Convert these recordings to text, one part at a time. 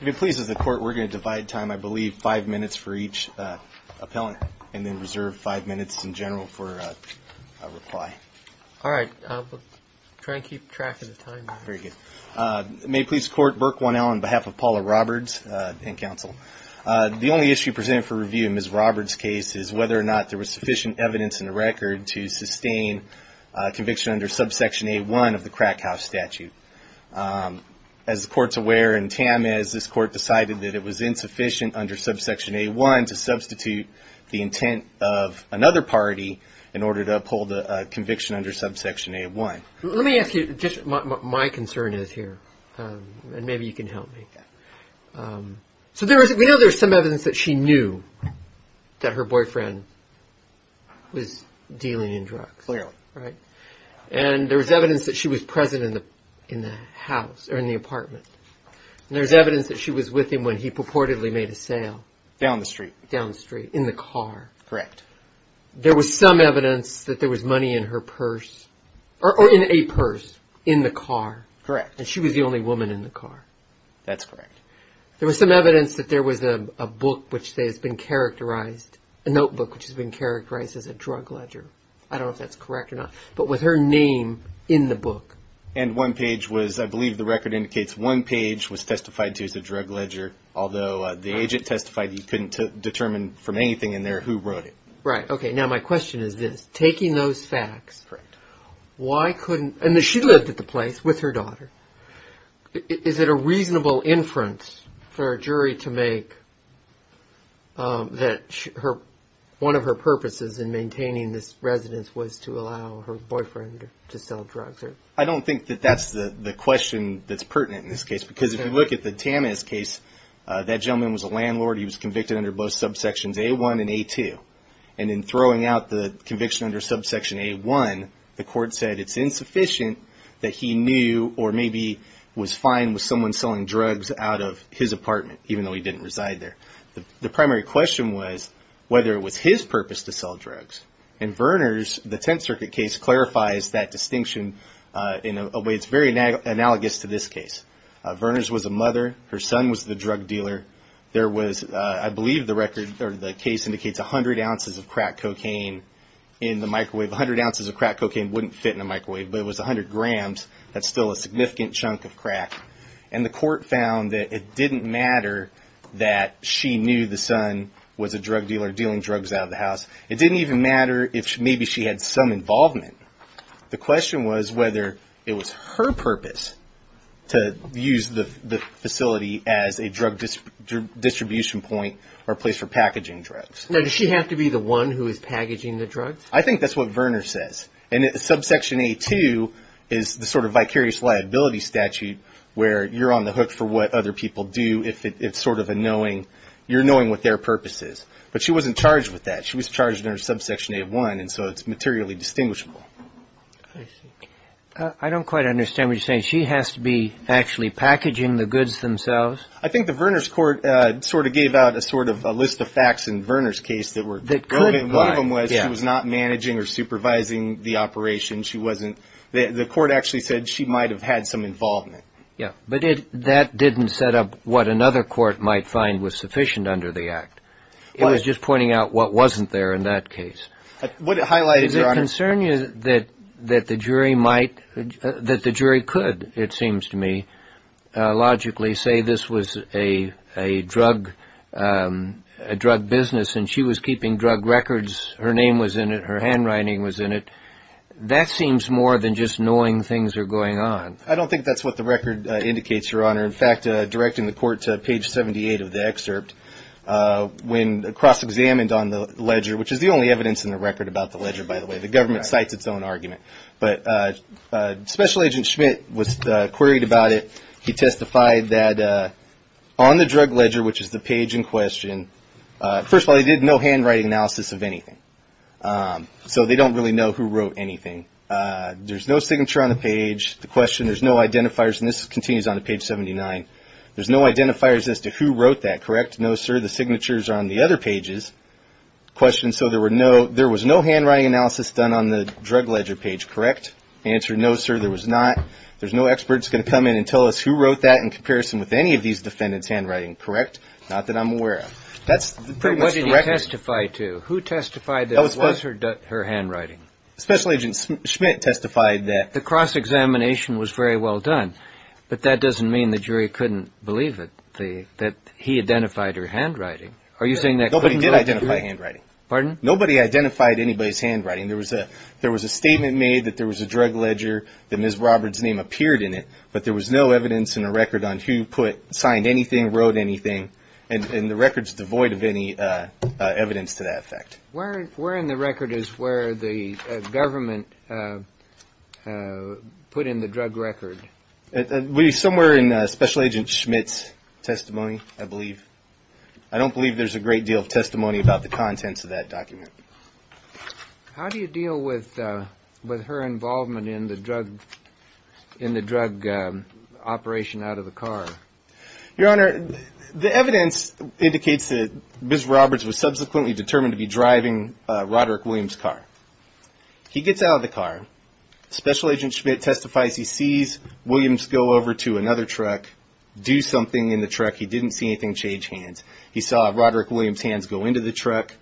May it please the court, we're going to divide time, I believe, five minutes for each appellant and then reserve five minutes in general for a reply. All right. We'll try and keep track of the time. Very good. May it please the court, Burke 1L on behalf of Paula Roberts and counsel. The only issue presented for review in Ms. Roberts' case is whether or not there was sufficient evidence in the record to sustain conviction under subsection A1 of the crack house statute. As the court's aware, and Tam is, this court decided that it was insufficient under subsection A1 to substitute the intent of another party in order to uphold a conviction under subsection A1. Let me ask you just what my concern is here and maybe you can help me. So there is, we know there's some evidence that she knew that her boyfriend was dealing in drugs. Clearly. And there was evidence that she was present in the house or in the apartment. And there's evidence that she was with him when he purportedly made a sale. Down the street. Down the street, in the car. Correct. There was some evidence that there was money in her purse or in a purse in the car. Correct. And she was the only woman in the car. That's correct. There was some evidence that there was a book which has been characterized, a notebook which I don't know if that's correct or not, but with her name in the book. And one page was, I believe the record indicates one page was testified to as a drug ledger. Although the agent testified he couldn't determine from anything in there who wrote it. Right, okay. Now my question is this. Taking those facts, why couldn't, and she lived at the place with her daughter. Is it a reasonable inference for a jury to make that one of her purposes in maintaining this residence was to allow her boyfriend to sell drugs? I don't think that that's the question that's pertinent in this case. Because if you look at the Tamas case, that gentleman was a landlord. He was convicted under both subsections A1 and A2. And in throwing out the conviction under subsection A1, the court said it's insufficient that he knew or maybe was fine with someone selling drugs out of his apartment, even though he didn't reside there. The primary question was whether it was his purpose to sell drugs. And Verners, the Tenth Circuit case, clarifies that distinction in a way that's very analogous to this case. Verners was a mother. Her son was the drug dealer. There was, I believe the record or the case indicates 100 ounces of crack cocaine in the microwave. 100 ounces of crack cocaine wouldn't fit in a microwave, but it was 100 grams. That's still a significant chunk of crack. And the court found that it didn't matter that she knew the son was a drug dealer dealing drugs out of the house. It didn't even matter if maybe she had some involvement. The question was whether it was her purpose to use the facility as a drug distribution point or place for packaging drugs. Now, does she have to be the one who is packaging the drugs? I think that's what Verners says. And subsection A-2 is the sort of vicarious liability statute where you're on the hook for what other people do if it's sort of a knowing. You're knowing what their purpose is. But she wasn't charged with that. She was charged under subsection A-1, and so it's materially distinguishable. I don't quite understand what you're saying. She has to be actually packaging the goods themselves? I think the Verners court sort of gave out a sort of a list of facts in Verners' case that were good. One of them was she was not managing or supervising the operation. The court actually said she might have had some involvement. Yeah, but that didn't set up what another court might find was sufficient under the act. It was just pointing out what wasn't there in that case. What it highlighted, Your Honor— that the jury could, it seems to me, logically say this was a drug business and she was keeping drug records. Her name was in it. Her handwriting was in it. That seems more than just knowing things are going on. I don't think that's what the record indicates, Your Honor. In fact, directing the court to page 78 of the excerpt, when cross-examined on the ledger, which is the only evidence in the record about the ledger, by the way. The government cites its own argument. But Special Agent Schmidt was queried about it. He testified that on the drug ledger, which is the page in question, first of all, he did no handwriting analysis of anything. So they don't really know who wrote anything. There's no signature on the page. The question, there's no identifiers, and this continues on to page 79. There's no identifiers as to who wrote that, correct? No, sir. The signatures are on the other pages. Question, so there was no handwriting analysis done on the drug ledger page, correct? Answer, no, sir, there was not. There's no experts going to come in and tell us who wrote that in comparison with any of these defendants' handwriting, correct? Not that I'm aware of. That's pretty much the record. But what did he testify to? Who testified that it was her handwriting? Special Agent Schmidt testified that. The cross-examination was very well done, but that doesn't mean the jury couldn't believe it, that he identified her handwriting. Are you saying that couldn't be? Nobody did identify handwriting. Pardon? Nobody identified anybody's handwriting. There was a statement made that there was a drug ledger, that Ms. Roberts' name appeared in it, but there was no evidence in the record on who put, signed anything, wrote anything, and the record's devoid of any evidence to that effect. Where in the record is where the government put in the drug record? Somewhere in Special Agent Schmidt's testimony, I believe. I don't believe there's a great deal of testimony about the contents of that document. How do you deal with her involvement in the drug operation out of the car? Your Honor, the evidence indicates that Ms. Roberts was subsequently determined to be driving Roderick Williams' car. He gets out of the car. Special Agent Schmidt testifies he sees Williams go over to another truck, do something in the truck. He didn't see anything change hands. He saw Roderick Williams' hands go into the truck.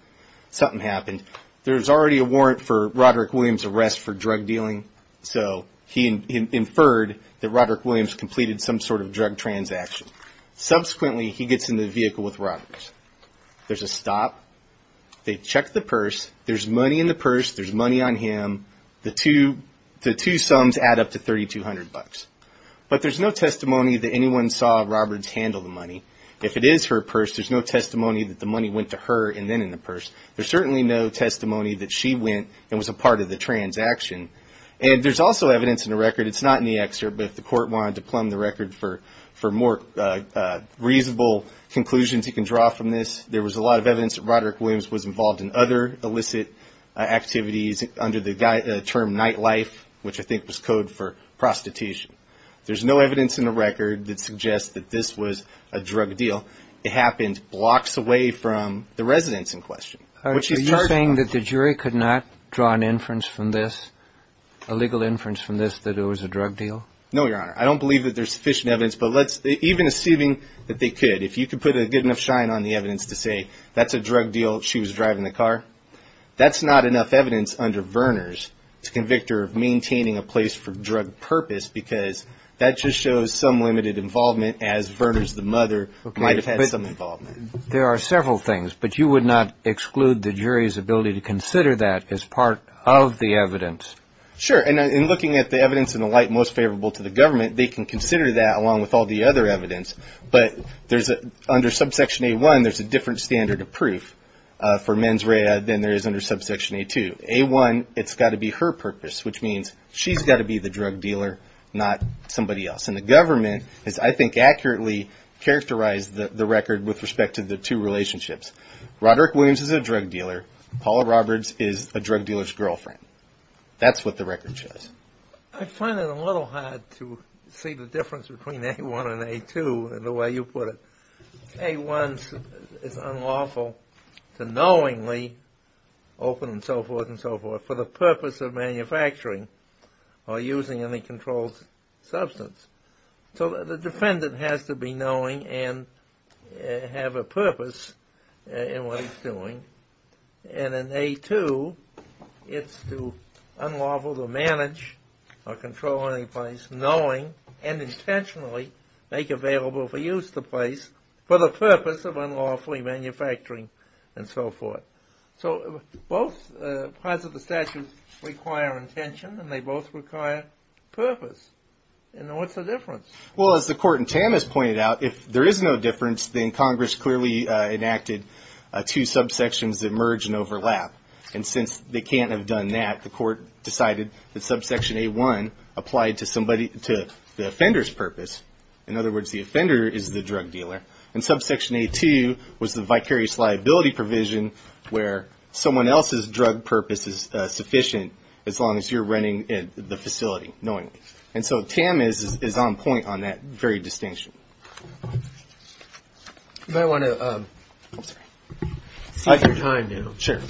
Something happened. There was already a warrant for Roderick Williams' arrest for drug dealing, so he inferred that Roderick Williams completed some sort of drug transaction. Subsequently, he gets in the vehicle with Roberts. There's a stop. They check the purse. There's money in the purse. There's money on him. The two sums add up to $3,200. But there's no testimony that anyone saw Roberts handle the money. If it is her purse, there's no testimony that the money went to her and then in the purse. There's certainly no testimony that she went and was a part of the transaction. And there's also evidence in the record, it's not in the excerpt, but if the Court wanted to plumb the record for more reasonable conclusions you can draw from this, there was a lot of evidence that Roderick Williams was involved in other illicit activities under the term nightlife, which I think was code for prostitution. There's no evidence in the record that suggests that this was a drug deal. It happened blocks away from the residence in question. Are you saying that the jury could not draw an inference from this, a legal inference from this that it was a drug deal? No, Your Honor. I don't believe that there's sufficient evidence, but even assuming that they could, if you could put a good enough shine on the evidence to say that's a drug deal, she was driving the car, that's not enough evidence under Verners to convict her of maintaining a place for drug purpose because that just shows some limited involvement as Verners, the mother, might have had some involvement. There are several things, but you would not exclude the jury's ability to consider that as part of the evidence? Sure, and looking at the evidence in the light most favorable to the government, they can consider that along with all the other evidence, but under subsection A-1, there's a different standard of proof for mens rea than there is under subsection A-2. A-1, it's got to be her purpose, which means she's got to be the drug dealer, not somebody else, and the government has, I think, accurately characterized the record with respect to the two relationships. Roderick Williams is a drug dealer. Paula Roberts is a drug dealer's girlfriend. That's what the record shows. I find it a little hard to see the difference between A-1 and A-2, the way you put it. A-1 is unlawful to knowingly open, and so forth, and so forth, for the purpose of manufacturing or using any controlled substance. So the defendant has to be knowing and have a purpose in what he's doing, and in A-2, it's to unlawful to manage or control any place knowing and intentionally make available for use the place for the purpose of unlawfully manufacturing, and so forth. So both parts of the statute require intention, and they both require purpose. And what's the difference? Well, as the court in Tamas pointed out, if there is no difference, then Congress clearly enacted two subsections that merge and overlap, and since they can't have done that, the court decided that subsection A-1 applied to the offender's purpose. In other words, the offender is the drug dealer, and subsection A-2 was the vicarious liability provision where someone else's drug purpose is sufficient, as long as you're running the facility knowingly. And so Tam is on point on that very distinction. You might want to set your time now. Sure.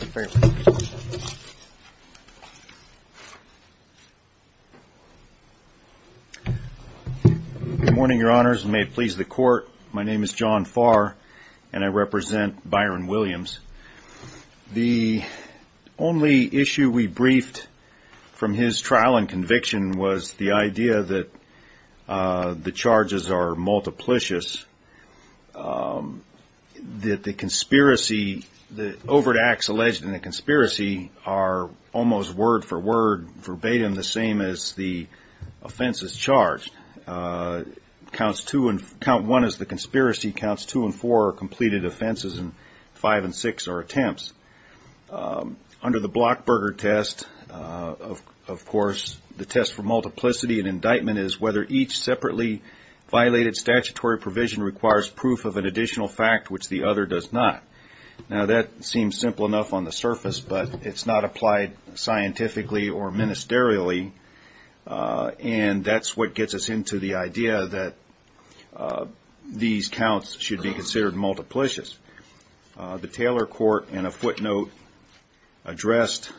Good morning, Your Honors, and may it please the Court. My name is John Farr, and I represent Byron Williams. The only issue we briefed from his trial and conviction was the idea that the charges are multiplicious, that the conspiracy, the overt acts alleged in the conspiracy are almost word for word, verbatim, the same as the offenses charged. Count one as the conspiracy, counts two and four are completed offenses, and five and six are attempts. Under the Blockberger test, of course, the test for multiplicity and indictment is whether each separately violated statutory provision requires proof of an additional fact, which the other does not. Now, that seems simple enough on the surface, but it's not applied scientifically or ministerially, and that's what gets us into the idea that these counts should be considered multiplicious. The Taylor Court in a footnote addressed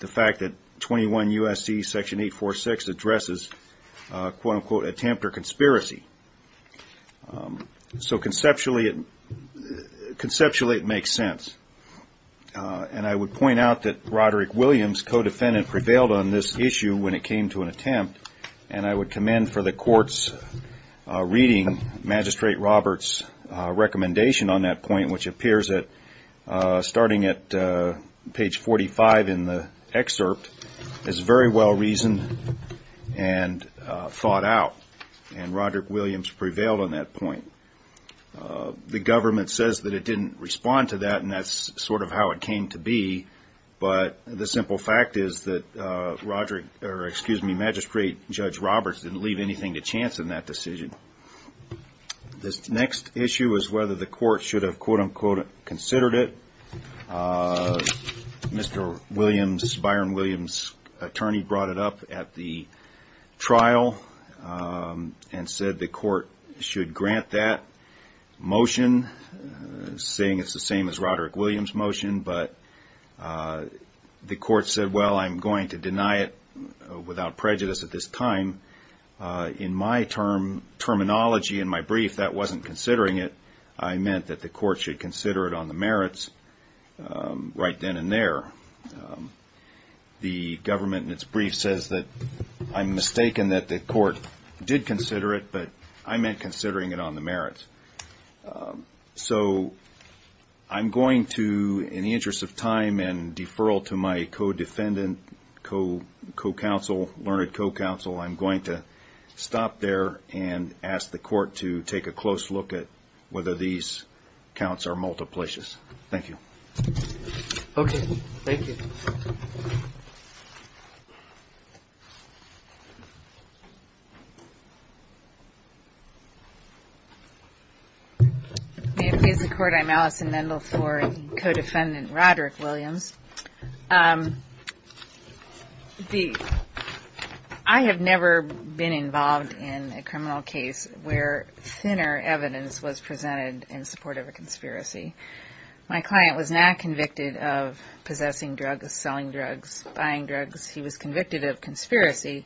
the fact that 21 U.S.C. Section 846 addresses, quote, unquote, attempt or conspiracy. So conceptually, it makes sense. And I would point out that Roderick Williams, co-defendant, prevailed on this issue when it came to an attempt, and I would commend for the court's reading Magistrate Roberts' recommendation on that point, which appears starting at page 45 in the excerpt as very well reasoned and thought out, and Roderick Williams prevailed on that point. The government says that it didn't respond to that, and that's sort of how it came to be, but the simple fact is that Magistrate Judge Roberts didn't leave anything to chance in that decision. This next issue is whether the court should have, quote, unquote, considered it. Mr. Williams, Byron Williams' attorney, brought it up at the trial and said the court should grant that motion, saying it's the same as Roderick Williams' motion, but the court said, well, I'm going to deny it without prejudice at this time. In my terminology in my brief, that wasn't considering it. I meant that the court should consider it on the merits right then and there. The government in its brief says that I'm mistaken that the court did consider it, but I meant considering it on the merits. So I'm going to, in the interest of time and deferral to my co-defendant, co-counsel, learned co-counsel, I'm going to stop there and ask the court to take a close look at whether these counts are multiplicious. Thank you. Okay. Thank you. May it please the Court, I'm Allison Mendel for co-defendant Roderick Williams. I have never been involved in a criminal case where thinner evidence was presented in support of a conspiracy. My client was not convicted of possessing drugs, selling drugs, buying drugs. He was convicted of conspiracy,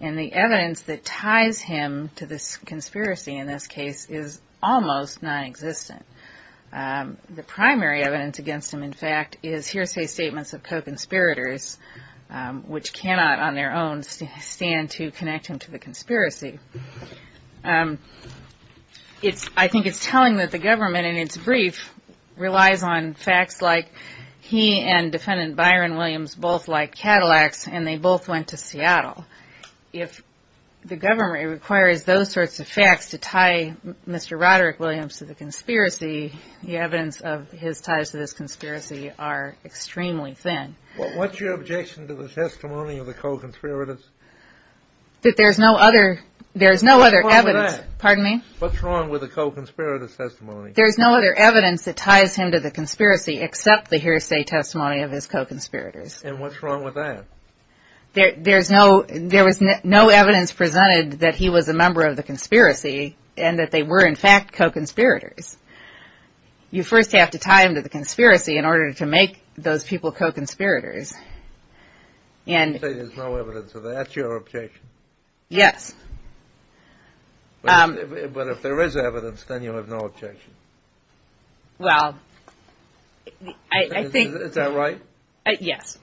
and the evidence that ties him to this conspiracy in this case is almost nonexistent. The primary evidence against him, in fact, is hearsay statements of co-conspirators, which cannot on their own stand to connect him to the conspiracy. I think it's telling that the government in its brief relies on facts like he and defendant Byron Williams both like Cadillacs, and they both went to Seattle. If the government requires those sorts of facts to tie Mr. Roderick Williams to the conspiracy, the evidence of his ties to this conspiracy are extremely thin. What's your objection to the testimony of the co-conspirators? That there's no other evidence. What's wrong with that? What's wrong with the co-conspirators' testimony? There's no other evidence that ties him to the conspiracy except the hearsay testimony of his co-conspirators. And what's wrong with that? There was no evidence presented that he was a member of the conspiracy and that they were, in fact, co-conspirators. You first have to tie him to the conspiracy in order to make those people co-conspirators. You say there's no evidence of that. Is that your objection? Yes. But if there is evidence, then you have no objection. Well, I think... Is that right? Yes.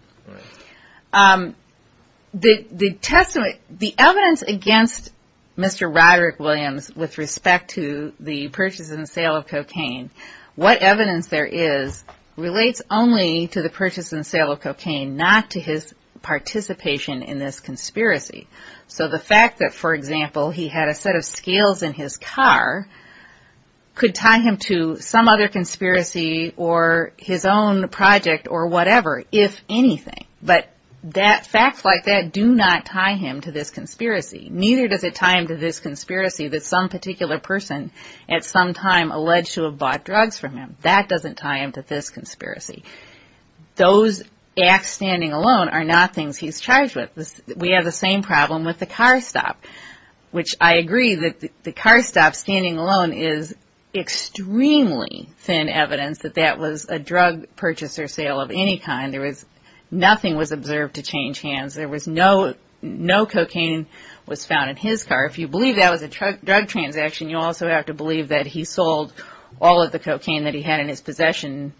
Right. The evidence against Mr. Roderick Williams with respect to the purchase and sale of cocaine, what evidence there is relates only to the purchase and sale of cocaine, not to his participation in this conspiracy. So the fact that, for example, he had a set of scales in his car could tie him to some other conspiracy or his own project or whatever, if anything. But facts like that do not tie him to this conspiracy. Neither does it tie him to this conspiracy that some particular person at some time alleged to have bought drugs from him. That doesn't tie him to this conspiracy. Those acts standing alone are not things he's charged with. We have the same problem with the car stop, which I agree that the car stop standing alone is extremely thin evidence that that was a drug purchase or sale of any kind. Nothing was observed to change hands. No cocaine was found in his car. If you believe that was a drug transaction, you also have to believe that he sold all of the cocaine that he had in his possession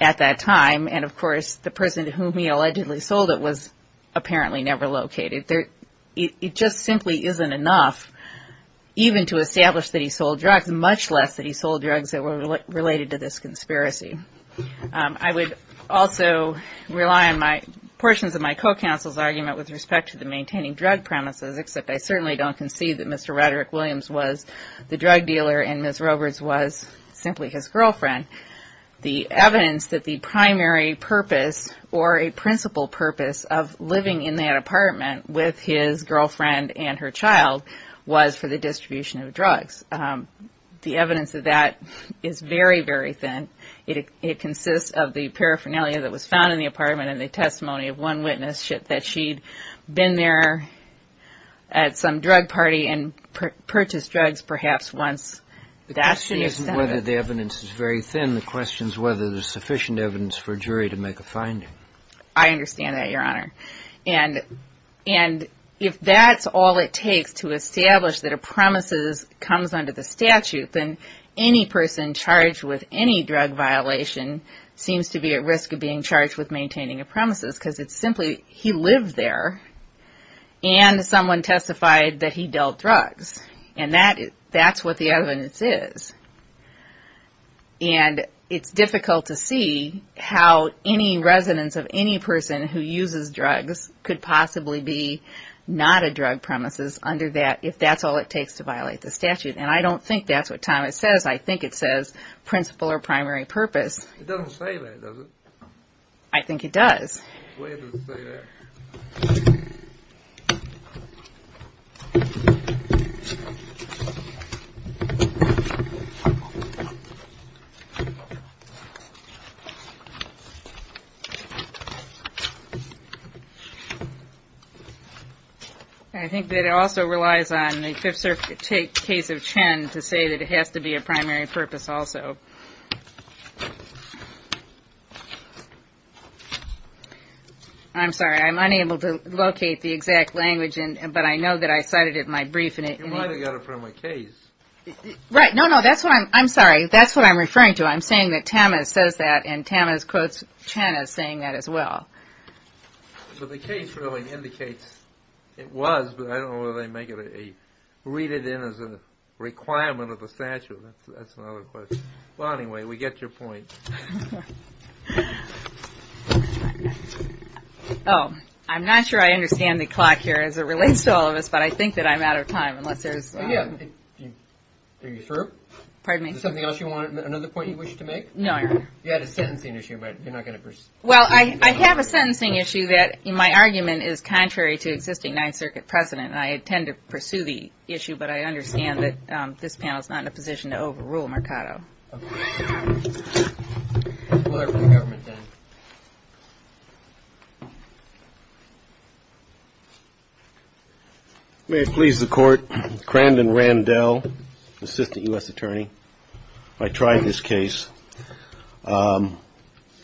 at that time. And, of course, the person to whom he allegedly sold it was apparently never located. It just simply isn't enough even to establish that he sold drugs, much less that he sold drugs that were related to this conspiracy. I would also rely on portions of my co-counsel's argument with respect to the maintaining drug premises, except I certainly don't concede that Mr. Roderick Williams was the drug dealer and Ms. Roberts was simply his girlfriend. The evidence that the primary purpose or a principal purpose of living in that apartment with his girlfriend and her child was for the distribution of drugs. The evidence of that is very, very thin. It consists of the paraphernalia that was found in the apartment and the testimony of one witness that she'd been there at some drug party and purchased drugs perhaps once. The question isn't whether the evidence is very thin. The question is whether there's sufficient evidence for a jury to make a finding. I understand that, Your Honor. And if that's all it takes to establish that a premises comes under the statute, then any person charged with any drug violation seems to be at risk of being charged with maintaining a premises because it's simply he lived there and someone testified that he dealt drugs. And that's what the evidence is. And it's difficult to see how any residence of any person who uses drugs could possibly be not a drug premises under that if that's all it takes to violate the statute. And I don't think that's what Thomas says. I think it says principal or primary purpose. It doesn't say that, does it? I think it does. I think that it also relies on the Fifth Circuit case of Chen to say that it has to be a primary purpose also. I'm sorry. I'm unable to locate the exact language, but I know that I cited it in my brief. You might have got it from a case. Right. No, no. I'm sorry. That's what I'm referring to. I'm saying that Thomas says that and Thomas quotes Chen as saying that as well. So the case really indicates it was, but I don't know whether they make it a read it in as a requirement of the statute. That's another question. Well, anyway, we get your point. Oh, I'm not sure I understand the clock here as it relates to all of this, but I think that I'm out of time unless there's. Are you through? Pardon me? Is there something else you want, another point you wish to make? No, Your Honor. You had a sentencing issue, but you're not going to pursue. Well, I have a sentencing issue that in my argument is contrary to existing Ninth Circuit precedent. I intend to pursue the issue, but I understand that this panel is not in a position to overrule Mercado. May it please the Court. Crandon Randell, assistant U.S. attorney. I tried this case. I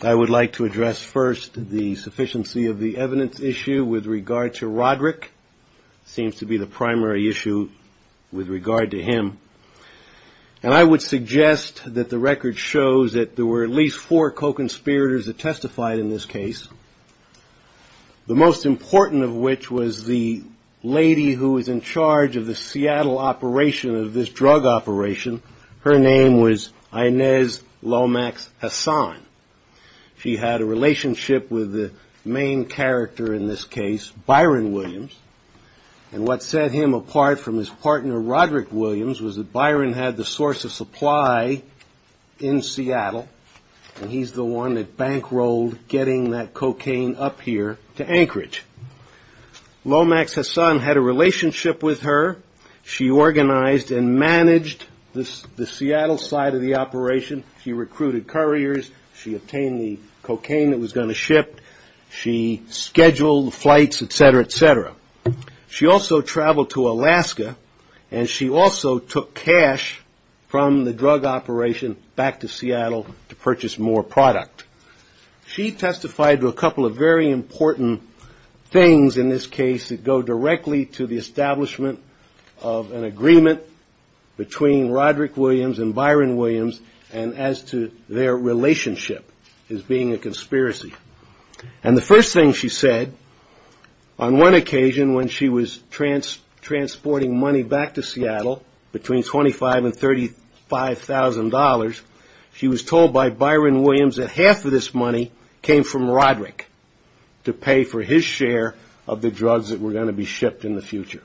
would like to address first the sufficiency of the evidence issue with regard to Roderick. Seems to be the primary issue with regard to him. And I would suggest that the record shows that there were at least four co-conspirators that testified in this case, the most important of which was the lady who was in charge of the Seattle operation of this drug operation. Her name was Inez Lomax Hassan. She had a relationship with the main character in this case, Byron Williams. And what set him apart from his partner, Roderick Williams, was that Byron had the source of supply in Seattle, and he's the one that bankrolled getting that cocaine up here to Anchorage. Lomax Hassan had a relationship with her. She organized and managed the Seattle side of the operation. She recruited couriers. She obtained the cocaine that was going to ship. She scheduled flights, et cetera, et cetera. She also traveled to Alaska, and she also took cash from the drug operation back to Seattle to purchase more product. She testified to a couple of very important things in this case that go directly to the establishment of an agreement between Roderick Williams and Byron Williams and as to their relationship as being a conspiracy. And the first thing she said on one occasion when she was transporting money back to Seattle between $25,000 and $35,000, she was told by Byron Williams that half of this money came from Roderick to pay for his share of the drugs that were going to be shipped in the future.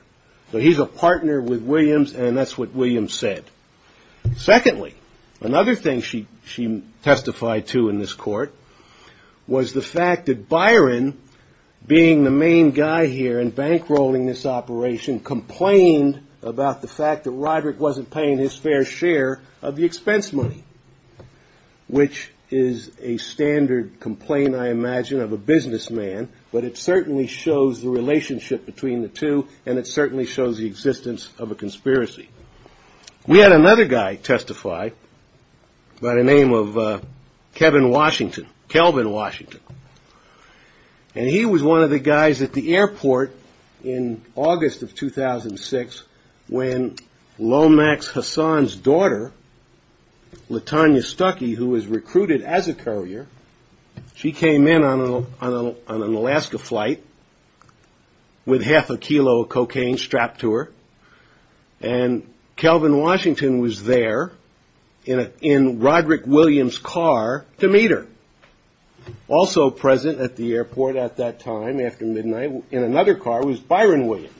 So he's a partner with Williams, and that's what Williams said. Secondly, another thing she testified to in this court was the fact that Byron, being the main guy here and bankrolling this operation, complained about the fact that Roderick wasn't paying his fair share of the expense money, which is a standard complaint, I imagine, of a businessman. But it certainly shows the relationship between the two, and it certainly shows the existence of a conspiracy. We had another guy testify by the name of Kevin Washington, Kelvin Washington. And he was one of the guys at the airport in August of 2006 when Lomax Hassan's daughter, Latonya Stuckey, who was recruited as a courier, she came in on an Alaska flight with half a kilo of cocaine strapped to her, and Kelvin Washington was there in Roderick Williams' car to meet her. Also present at the airport at that time after midnight in another car was Byron Williams.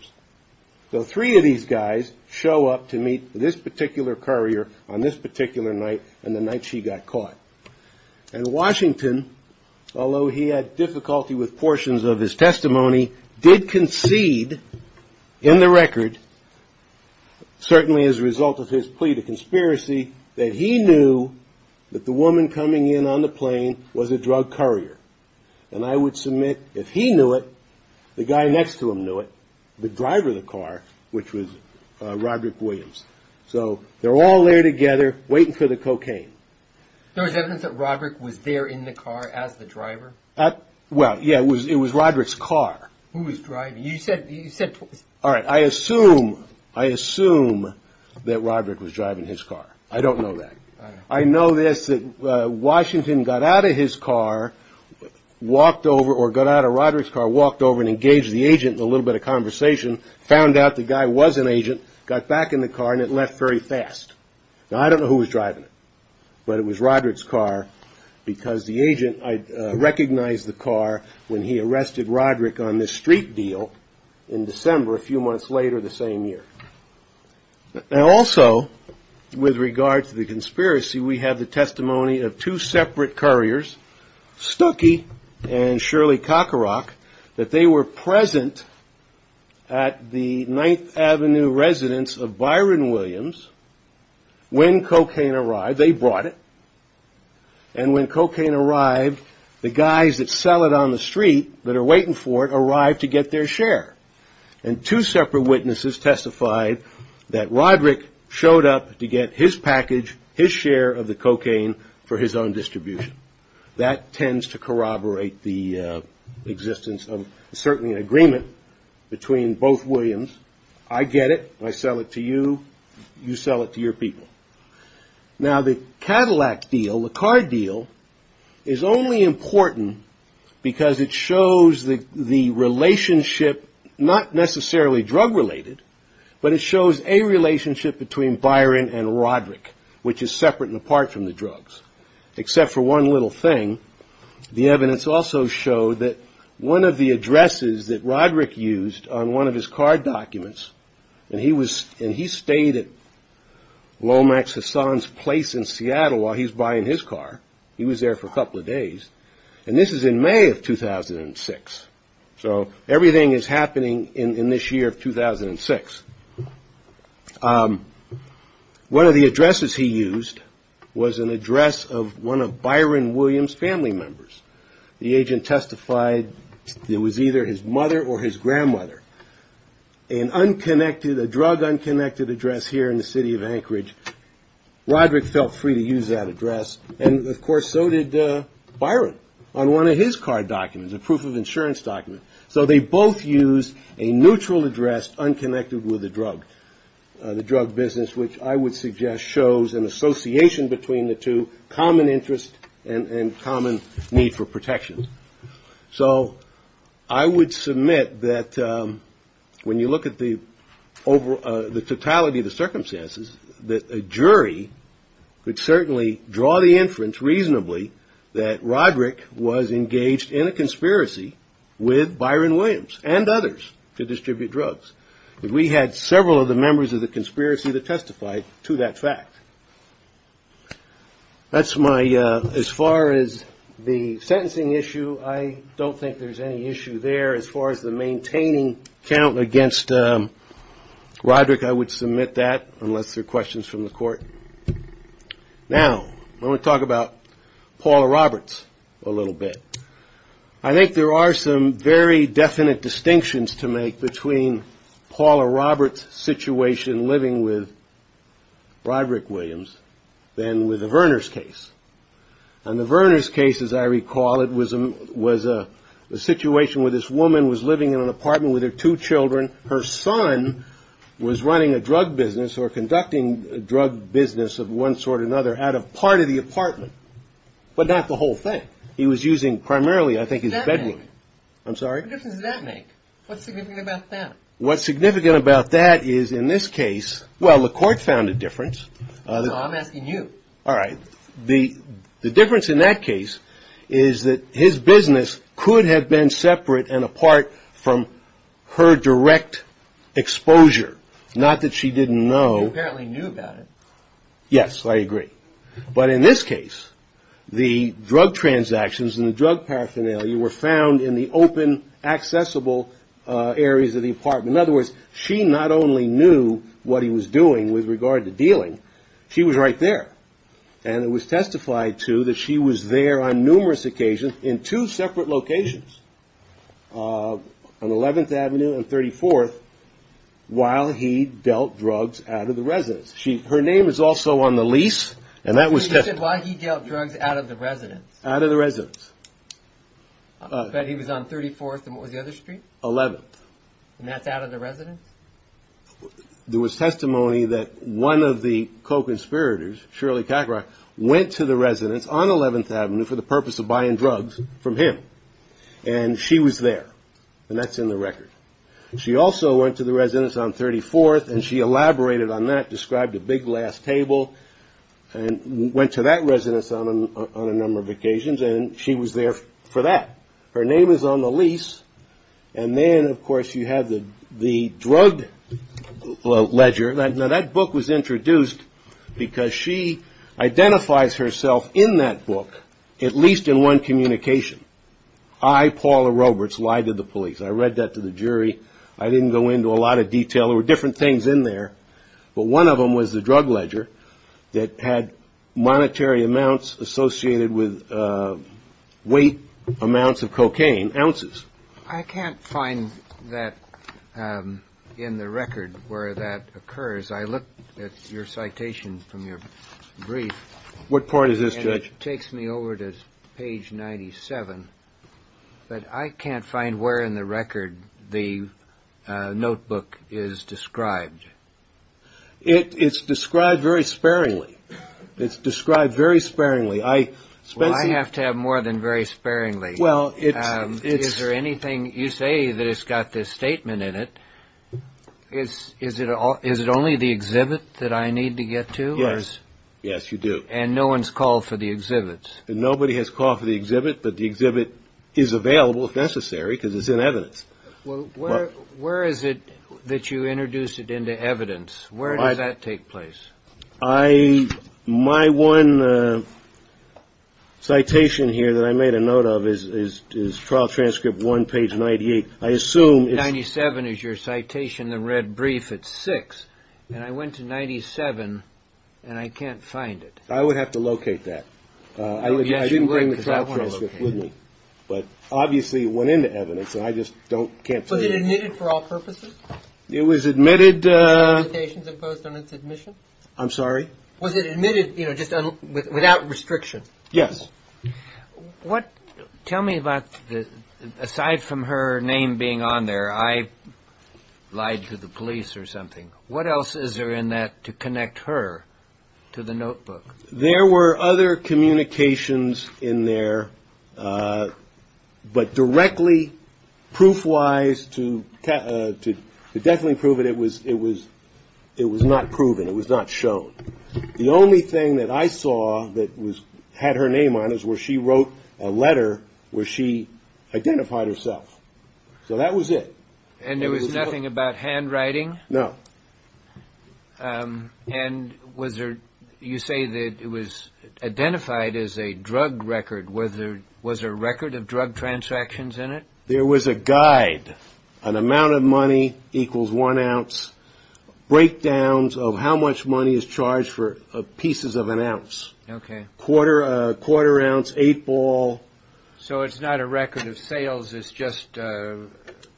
So three of these guys show up to meet this particular courier on this particular night and the night she got caught. And Washington, although he had difficulty with portions of his testimony, did concede in the record, certainly as a result of his plea to conspiracy, that he knew that the woman coming in on the plane was a drug courier. And I would submit if he knew it, the guy next to him knew it, the driver of the car, which was Roderick Williams. So they're all there together waiting for the cocaine. There was evidence that Roderick was there in the car as the driver? Well, yeah, it was Roderick's car. Who was driving? You said you said. All right. I assume I assume that Roderick was driving his car. I don't know that. I know this. Washington got out of his car, walked over or got out of Roderick's car, walked over and engaged the agent in a little bit of conversation, found out the guy was an agent, got back in the car, and it left very fast. Now, I don't know who was driving it, but it was Roderick's car because the agent recognized the car when he arrested Roderick on this street deal in December, a few months later the same year. Also, with regard to the conspiracy, we have the testimony of two separate couriers, Stuckey and Shirley Cockerock, that they were present at the Ninth Avenue residence of Byron Williams when cocaine arrived. They brought it. And when cocaine arrived, the guys that sell it on the street that are waiting for it arrived to get their share. And two separate witnesses testified that Roderick showed up to get his package, his share of the cocaine for his own distribution. That tends to corroborate the existence of certainly an agreement between both Williams. I get it. I sell it to you. You sell it to your people. Now, the Cadillac deal, the card deal, is only important because it shows the relationship, not necessarily drug-related, but it shows a relationship between Byron and Roderick, which is separate and apart from the drugs, except for one little thing. The evidence also showed that one of the addresses that Roderick used on one of his card documents, and he stayed at Lomax Hassan's place in Seattle while he was buying his car. He was there for a couple of days. And this is in May of 2006. So everything is happening in this year of 2006. One of the addresses he used was an address of one of Byron Williams' family members. The agent testified it was either his mother or his grandmother. An unconnected, a drug-unconnected address here in the city of Anchorage. Roderick felt free to use that address. And, of course, so did Byron on one of his card documents, a proof of insurance document. So they both used a neutral address unconnected with the drug, the drug business, which I would suggest shows an association between the two, common interest and common need for protection. So I would submit that when you look at the totality of the circumstances, that a jury could certainly draw the inference reasonably that Roderick was engaged in a conspiracy with Byron Williams and others to distribute drugs. We had several of the members of the conspiracy that testified to that fact. That's my, as far as the sentencing issue, I don't think there's any issue there. As far as the maintaining count against Roderick, I would submit that unless there are questions from the court. Now, I want to talk about Paula Roberts a little bit. I think there are some very definite distinctions to make between Paula Roberts' situation living with Roderick Williams than with the Verners case. On the Verners case, as I recall, it was a situation where this woman was living in an apartment with her two children. Her son was running a drug business or conducting a drug business of one sort or another out of part of the apartment, but not the whole thing. He was using primarily, I think, his bedroom. I'm sorry? What difference does that make? What's significant about that? Well, the court found a difference. No, I'm asking you. All right. The difference in that case is that his business could have been separate and apart from her direct exposure, not that she didn't know. She apparently knew about it. Yes, I agree. But in this case, the drug transactions and the drug paraphernalia were found in the open, accessible areas of the apartment. In other words, she not only knew what he was doing with regard to dealing, she was right there. And it was testified to that she was there on numerous occasions in two separate locations, on 11th Avenue and 34th, while he dealt drugs out of the residence. Her name is also on the lease, and that was testified. You said while he dealt drugs out of the residence. Out of the residence. But he was on 34th and what was the other street? 11th. And that's out of the residence? There was testimony that one of the co-conspirators, Shirley Kakaroff, went to the residence on 11th Avenue for the purpose of buying drugs from him. And she was there, and that's in the record. She also went to the residence on 34th, and she elaborated on that, described a big glass table, and went to that residence on a number of occasions, and she was there for that. Her name is on the lease. And then, of course, you have the drug ledger. Now, that book was introduced because she identifies herself in that book, at least in one communication. I, Paula Roberts, lied to the police. I read that to the jury. I didn't go into a lot of detail. There were different things in there. But one of them was the drug ledger that had monetary amounts associated with weight amounts of cocaine, ounces. I can't find that in the record where that occurs. I looked at your citation from your brief. What part is this, Judge? It takes me over to page 97, but I can't find where in the record the notebook is described. It's described very sparingly. It's described very sparingly. Well, I have to have more than very sparingly. Is there anything? You say that it's got this statement in it. Is it only the exhibit that I need to get to? Yes, you do. And no one's called for the exhibits? Nobody has called for the exhibit, but the exhibit is available if necessary because it's in evidence. Well, where is it that you introduce it into evidence? Where does that take place? My one citation here that I made a note of is trial transcript one, page 98. I assume it's... 97 is your citation, the red brief. It's six. And I went to 97 and I can't find it. I would have to locate that. I shouldn't bring the trial transcript with me. But obviously it went into evidence, and I just can't find it. Was it admitted for all purposes? It was admitted... The limitations imposed on its admission? I'm sorry? Was it admitted just without restriction? Yes. Tell me about, aside from her name being on there, I lied to the police or something, what else is there in that to connect her to the notebook? There were other communications in there, but directly, proof-wise, to definitely prove it, it was not proven. It was not shown. The only thing that I saw that had her name on it was where she wrote a letter where she identified herself. So that was it. And there was nothing about handwriting? No. And you say that it was identified as a drug record. Was there a record of drug transactions in it? There was a guide. An amount of money equals one ounce. Breakdowns of how much money is charged for pieces of an ounce. Okay. Quarter ounce, eight ball. So it's not a record of sales, it's just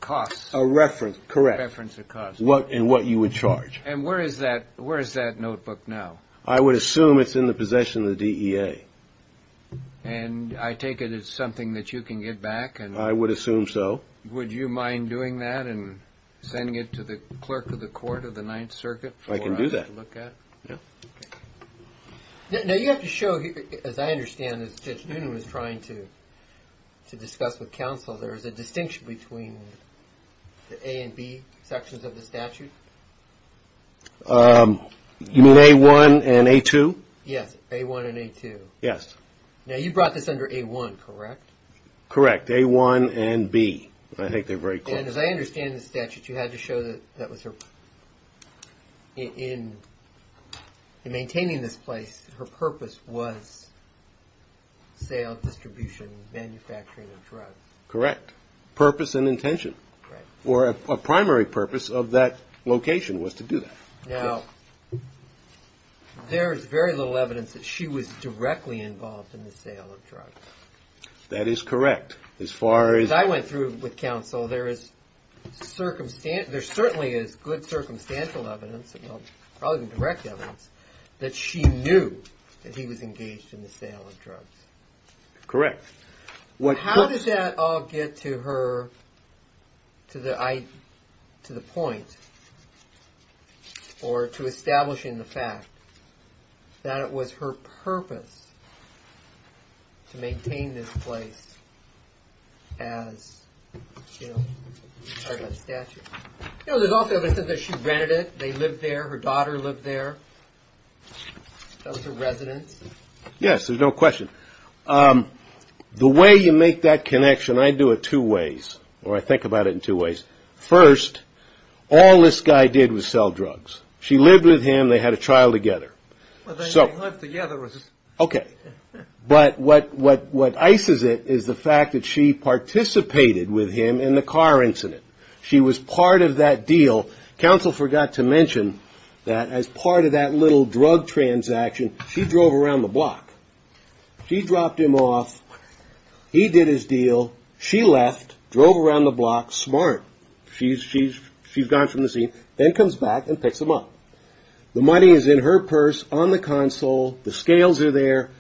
costs? A reference, correct. A reference of costs. And what you would charge. And where is that notebook now? I would assume it's in the possession of the DEA. And I take it as something that you can give back? I would assume so. Would you mind doing that and sending it to the clerk of the court of the Ninth Circuit for us to look at? I can do that. Now you have to show, as I understand, as Judge Noonan was trying to discuss with counsel, there is a distinction between the A and B sections of the statute? You mean A-1 and A-2? Yes, A-1 and A-2. Yes. Now you brought this under A-1, correct? Correct, A-1 and B. I think they're very close. And as I understand the statute, you had to show that in maintaining this place, her purpose was sale, distribution, manufacturing of drugs. Correct. Purpose and intention. Right. Or a primary purpose of that location was to do that. Now, there is very little evidence that she was directly involved in the sale of drugs. That is correct. As I went through with counsel, there certainly is good circumstantial evidence, probably even direct evidence, that she knew that he was engaged in the sale of drugs. Correct. How does that all get to the point or to establishing the fact that it was her purpose to maintain this place as part of that statute? You know, there's also evidence that she rented it. They lived there. Her daughter lived there. Those are residents. Yes, there's no question. The way you make that connection, I do it two ways, or I think about it in two ways. First, all this guy did was sell drugs. She lived with him. They had a child together. Well, they didn't live together. Okay. But what ices it is the fact that she participated with him in the car incident. She was part of that deal. Counsel forgot to mention that as part of that little drug transaction, she drove around the block. She dropped him off. He did his deal. She left, drove around the block smart. She's gone from the scene, then comes back and picks him up. The money is in her purse on the console. The scales are there.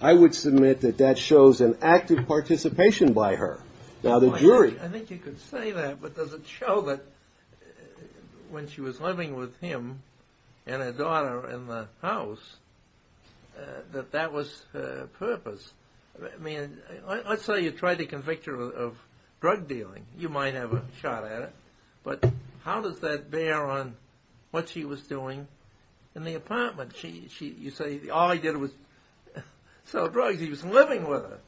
I would submit that that shows an active participation by her. I think you could say that, but does it show that when she was living with him and her daughter in the house that that was her purpose? I mean, let's say you tried to convict her of drug dealing. You might have a shot at it, but how does that bear on what she was doing in the apartment? You say all he did was sell drugs. He was living with her.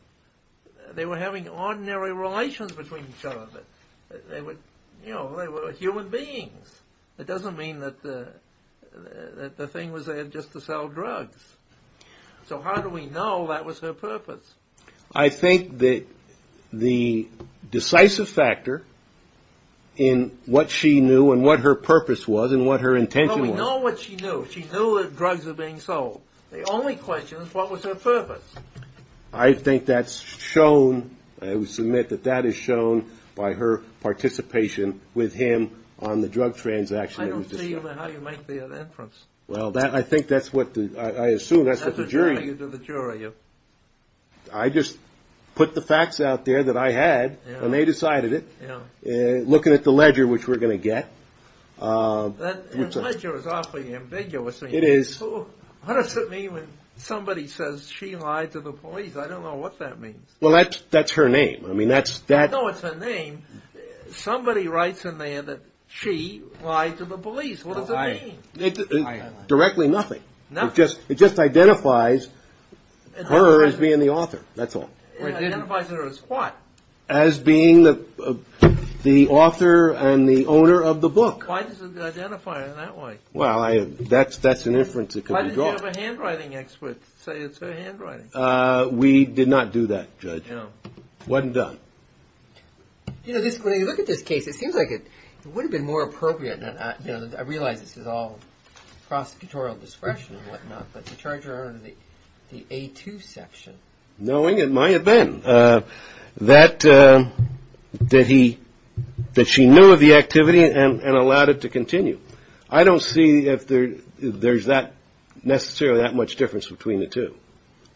They were having ordinary relations between each other. They were human beings. It doesn't mean that the thing was there just to sell drugs. So how do we know that was her purpose? I think that the decisive factor in what she knew and what her purpose was and what her intention was. We know what she knew. She knew that drugs were being sold. The only question is what was her purpose? I think that's shown. I would submit that that is shown by her participation with him on the drug transaction. I don't see how you make the inference. Well, I think that's what I assume. That's the jury. You do the jury. I just put the facts out there that I had, and they decided it. Looking at the ledger, which we're going to get. That ledger is awfully ambiguous. It is. So what does it mean when somebody says she lied to the police? I don't know what that means. Well, that's her name. No, it's her name. Somebody writes in there that she lied to the police. What does it mean? Directly nothing. Nothing? It just identifies her as being the author. That's all. It identifies her as what? As being the author and the owner of the book. Why does it identify her that way? Well, that's an inference that could be drawn. Why didn't you have a handwriting expert say it's her handwriting? We did not do that, Judge. No. Wasn't done. You know, when you look at this case, it seems like it would have been more appropriate, and I realize this is all prosecutorial discretion and whatnot, but to charge her under the A2 section. Knowing it might have been. That she knew of the activity and allowed it to continue. I don't see if there's necessarily that much difference between the two.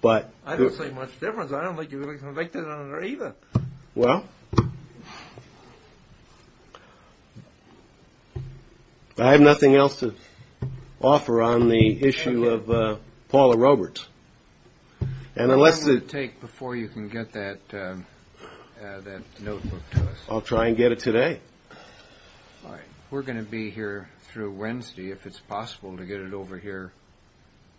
I don't see much difference. I don't think you're convicted on either. Well, I have nothing else to offer on the issue of Paula Roberts. I'm going to take before you can get that notebook to us. I'll try and get it today. All right. We're going to be here through Wednesday. If it's possible to get it over here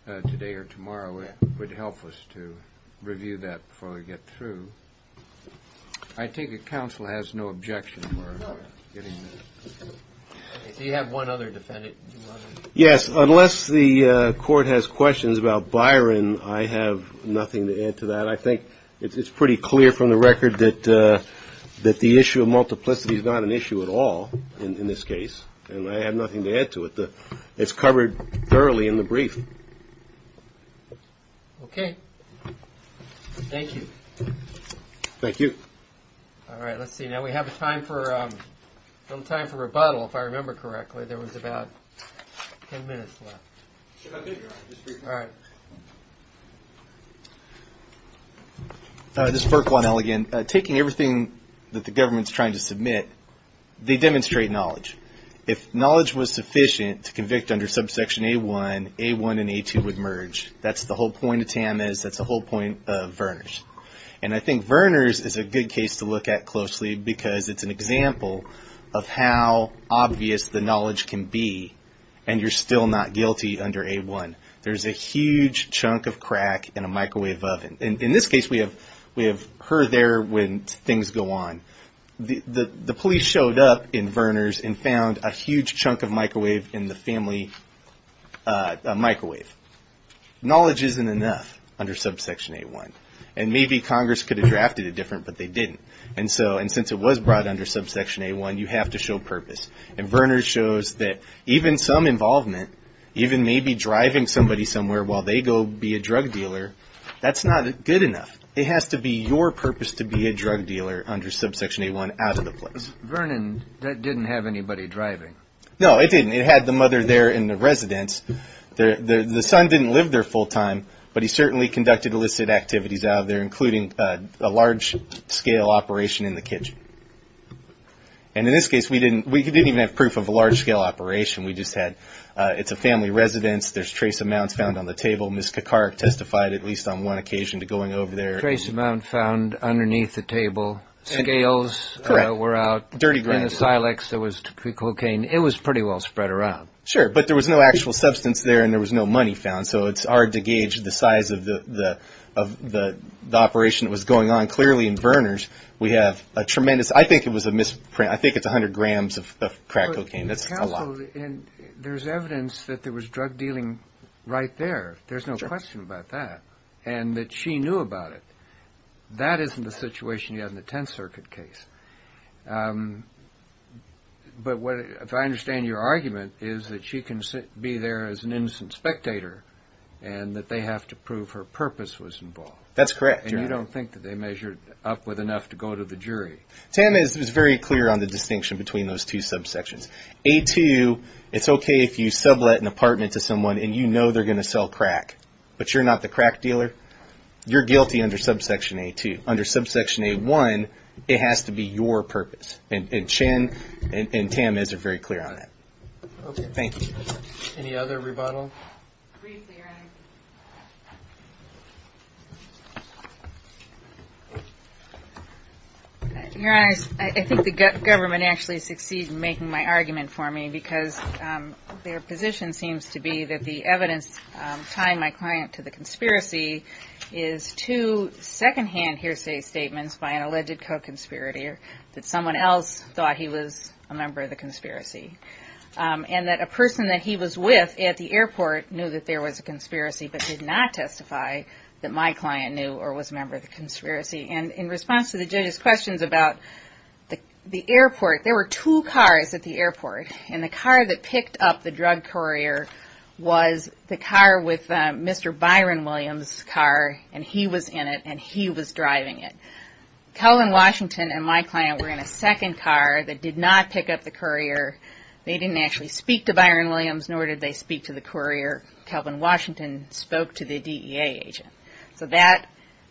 today or tomorrow, it would help us to review that before we get through. I take it counsel has no objection. You have one other defendant. Yes. Unless the court has questions about Byron, I have nothing to add to that. I think it's pretty clear from the record that the issue of multiplicity is not an issue at all in this case, and I have nothing to add to it. It's covered thoroughly in the brief. Okay. Thank you. Thank you. All right. Let's see. Now we have time for rebuttal, if I remember correctly. There was about ten minutes left. All right. This is Burke 1L again. Taking everything that the government's trying to submit, they demonstrate knowledge. If knowledge was sufficient to convict under subsection A1, A1 and A2 would merge. That's the whole point of TAMAS. That's the whole point of Vernors. And I think Vernors is a good case to look at closely because it's an example of how obvious the knowledge can be, and you're still not guilty under A1. There's a huge chunk of crack in a microwave oven. In this case, we have her there when things go on. The police showed up in Vernors and found a huge chunk of microwave in the family microwave. Knowledge isn't enough under subsection A1. And maybe Congress could have drafted it different, but they didn't. And since it was brought under subsection A1, you have to show purpose. And Vernors shows that even some involvement, even maybe driving somebody somewhere while they go be a drug dealer, that's not good enough. It has to be your purpose to be a drug dealer under subsection A1 out of the place. Vernon didn't have anybody driving. No, it didn't. It had the mother there in the residence. The son didn't live there full time, but he certainly conducted illicit activities out of there, including a large-scale operation in the kitchen. And in this case, we didn't even have proof of a large-scale operation. We just had it's a family residence. There's trace amounts found on the table. Ms. Kekarik testified at least on one occasion to going over there. Trace amount found underneath the table. Scales were out. Dirty grime. In the Silex, there was cocaine. It was pretty well spread around. Sure, but there was no actual substance there, and there was no money found. So it's hard to gauge the size of the operation that was going on. Clearly, in Berners, we have a tremendous – I think it was a misprint. I think it's 100 grams of crack cocaine. That's a lot. There's evidence that there was drug dealing right there. There's no question about that, and that she knew about it. That isn't the situation you have in the Tenth Circuit case. But what – if I understand your argument, is that she can be there as an innocent spectator and that they have to prove her purpose was involved. That's correct. And you don't think that they measured up with enough to go to the jury? Tam is very clear on the distinction between those two subsections. A2, it's okay if you sublet an apartment to someone and you know they're going to sell crack, but you're not the crack dealer. You're guilty under subsection A2. Under subsection A1, it has to be your purpose. And Chen and Tam are very clear on that. Thank you. Any other rebuttal? Briefly, Your Honor. Your Honor, I think the government actually succeeded in making my argument for me because their position seems to be that the evidence tying my client to the conspiracy is two secondhand hearsay statements by an alleged co-conspirator that someone else thought he was a member of the conspiracy. And that a person that he was with at the airport knew that there was a conspiracy but did not testify that my client knew or was a member of the conspiracy. And in response to the judge's questions about the airport, there were two cars at the airport and the car that picked up the drug courier was the car with Mr. Byron Williams' car and he was in it and he was driving it. Kelvin Washington and my client were in a second car that did not pick up the courier. They didn't actually speak to Byron Williams nor did they speak to the courier. Kelvin Washington spoke to the DEA agent. So that's...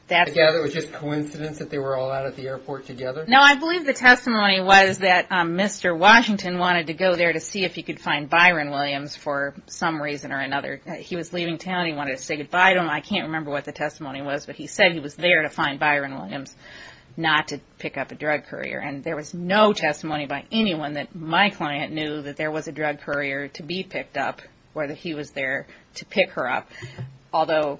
Yeah, it was just coincidence that they were all out at the airport together? No, I believe the testimony was that Mr. Washington wanted to go there to see if he could find Byron Williams for some reason or another. He was leaving town. He wanted to say goodbye to him. I can't remember what the testimony was, but he said he was there to find Byron Williams not to pick up a drug courier. And there was no testimony by anyone that my client knew that there was a drug courier to be picked up or that he was there to pick her up. Although,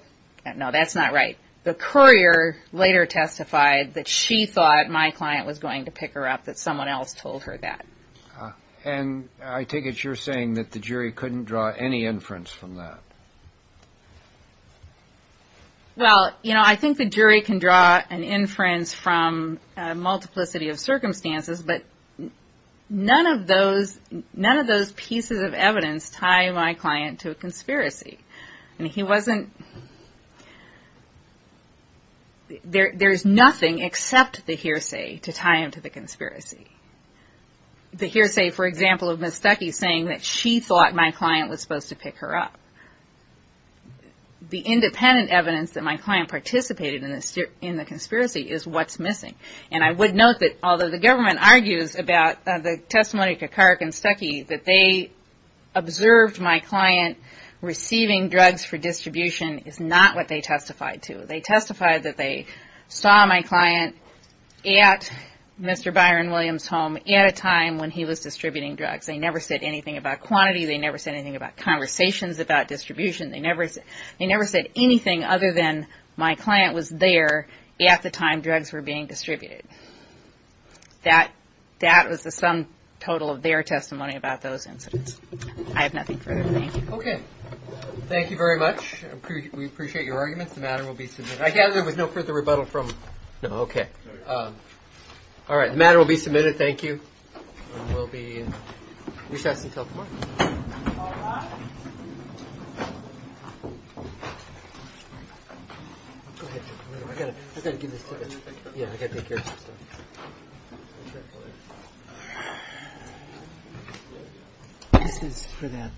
no, that's not right. The courier later testified that she thought my client was going to pick her up, that someone else told her that. And I take it you're saying that the jury couldn't draw any inference from that? Well, you know, I think the jury can draw an inference from a multiplicity of circumstances, but none of those pieces of evidence tie my client to a conspiracy. And he wasn't... There's nothing except the hearsay to tie him to the conspiracy. The hearsay, for example, of Ms. Duckey saying that she thought my client was supposed to pick her up. The independent evidence that my client participated in the conspiracy is what's missing. And I would note that although the government argues about the testimony of Kekarik and Stuckey, that they observed my client receiving drugs for distribution is not what they testified to. They testified that they saw my client at Mr. Byron Williams' home at a time when he was distributing drugs. They never said anything about quantity. They never said anything about conversations about distribution. They never said anything other than my client was there at the time drugs were being distributed. That was the sum total of their testimony about those incidents. I have nothing further to say. Okay. Thank you very much. We appreciate your arguments. The matter will be submitted. I gather there was no further rebuttal from... No, okay. All right. The matter will be submitted. Thank you. And we'll be... We should have some telephone. All right. Go ahead. I've got to give this to the... Yeah, I've got to take care of some stuff. This is for them.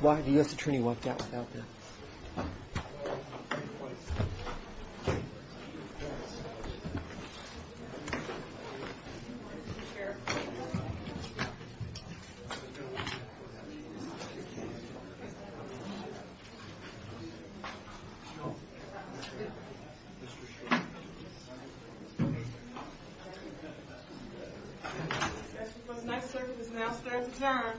The U.S. Attorney walked out without them. Thank you, sir. The next circuit is now starting to turn.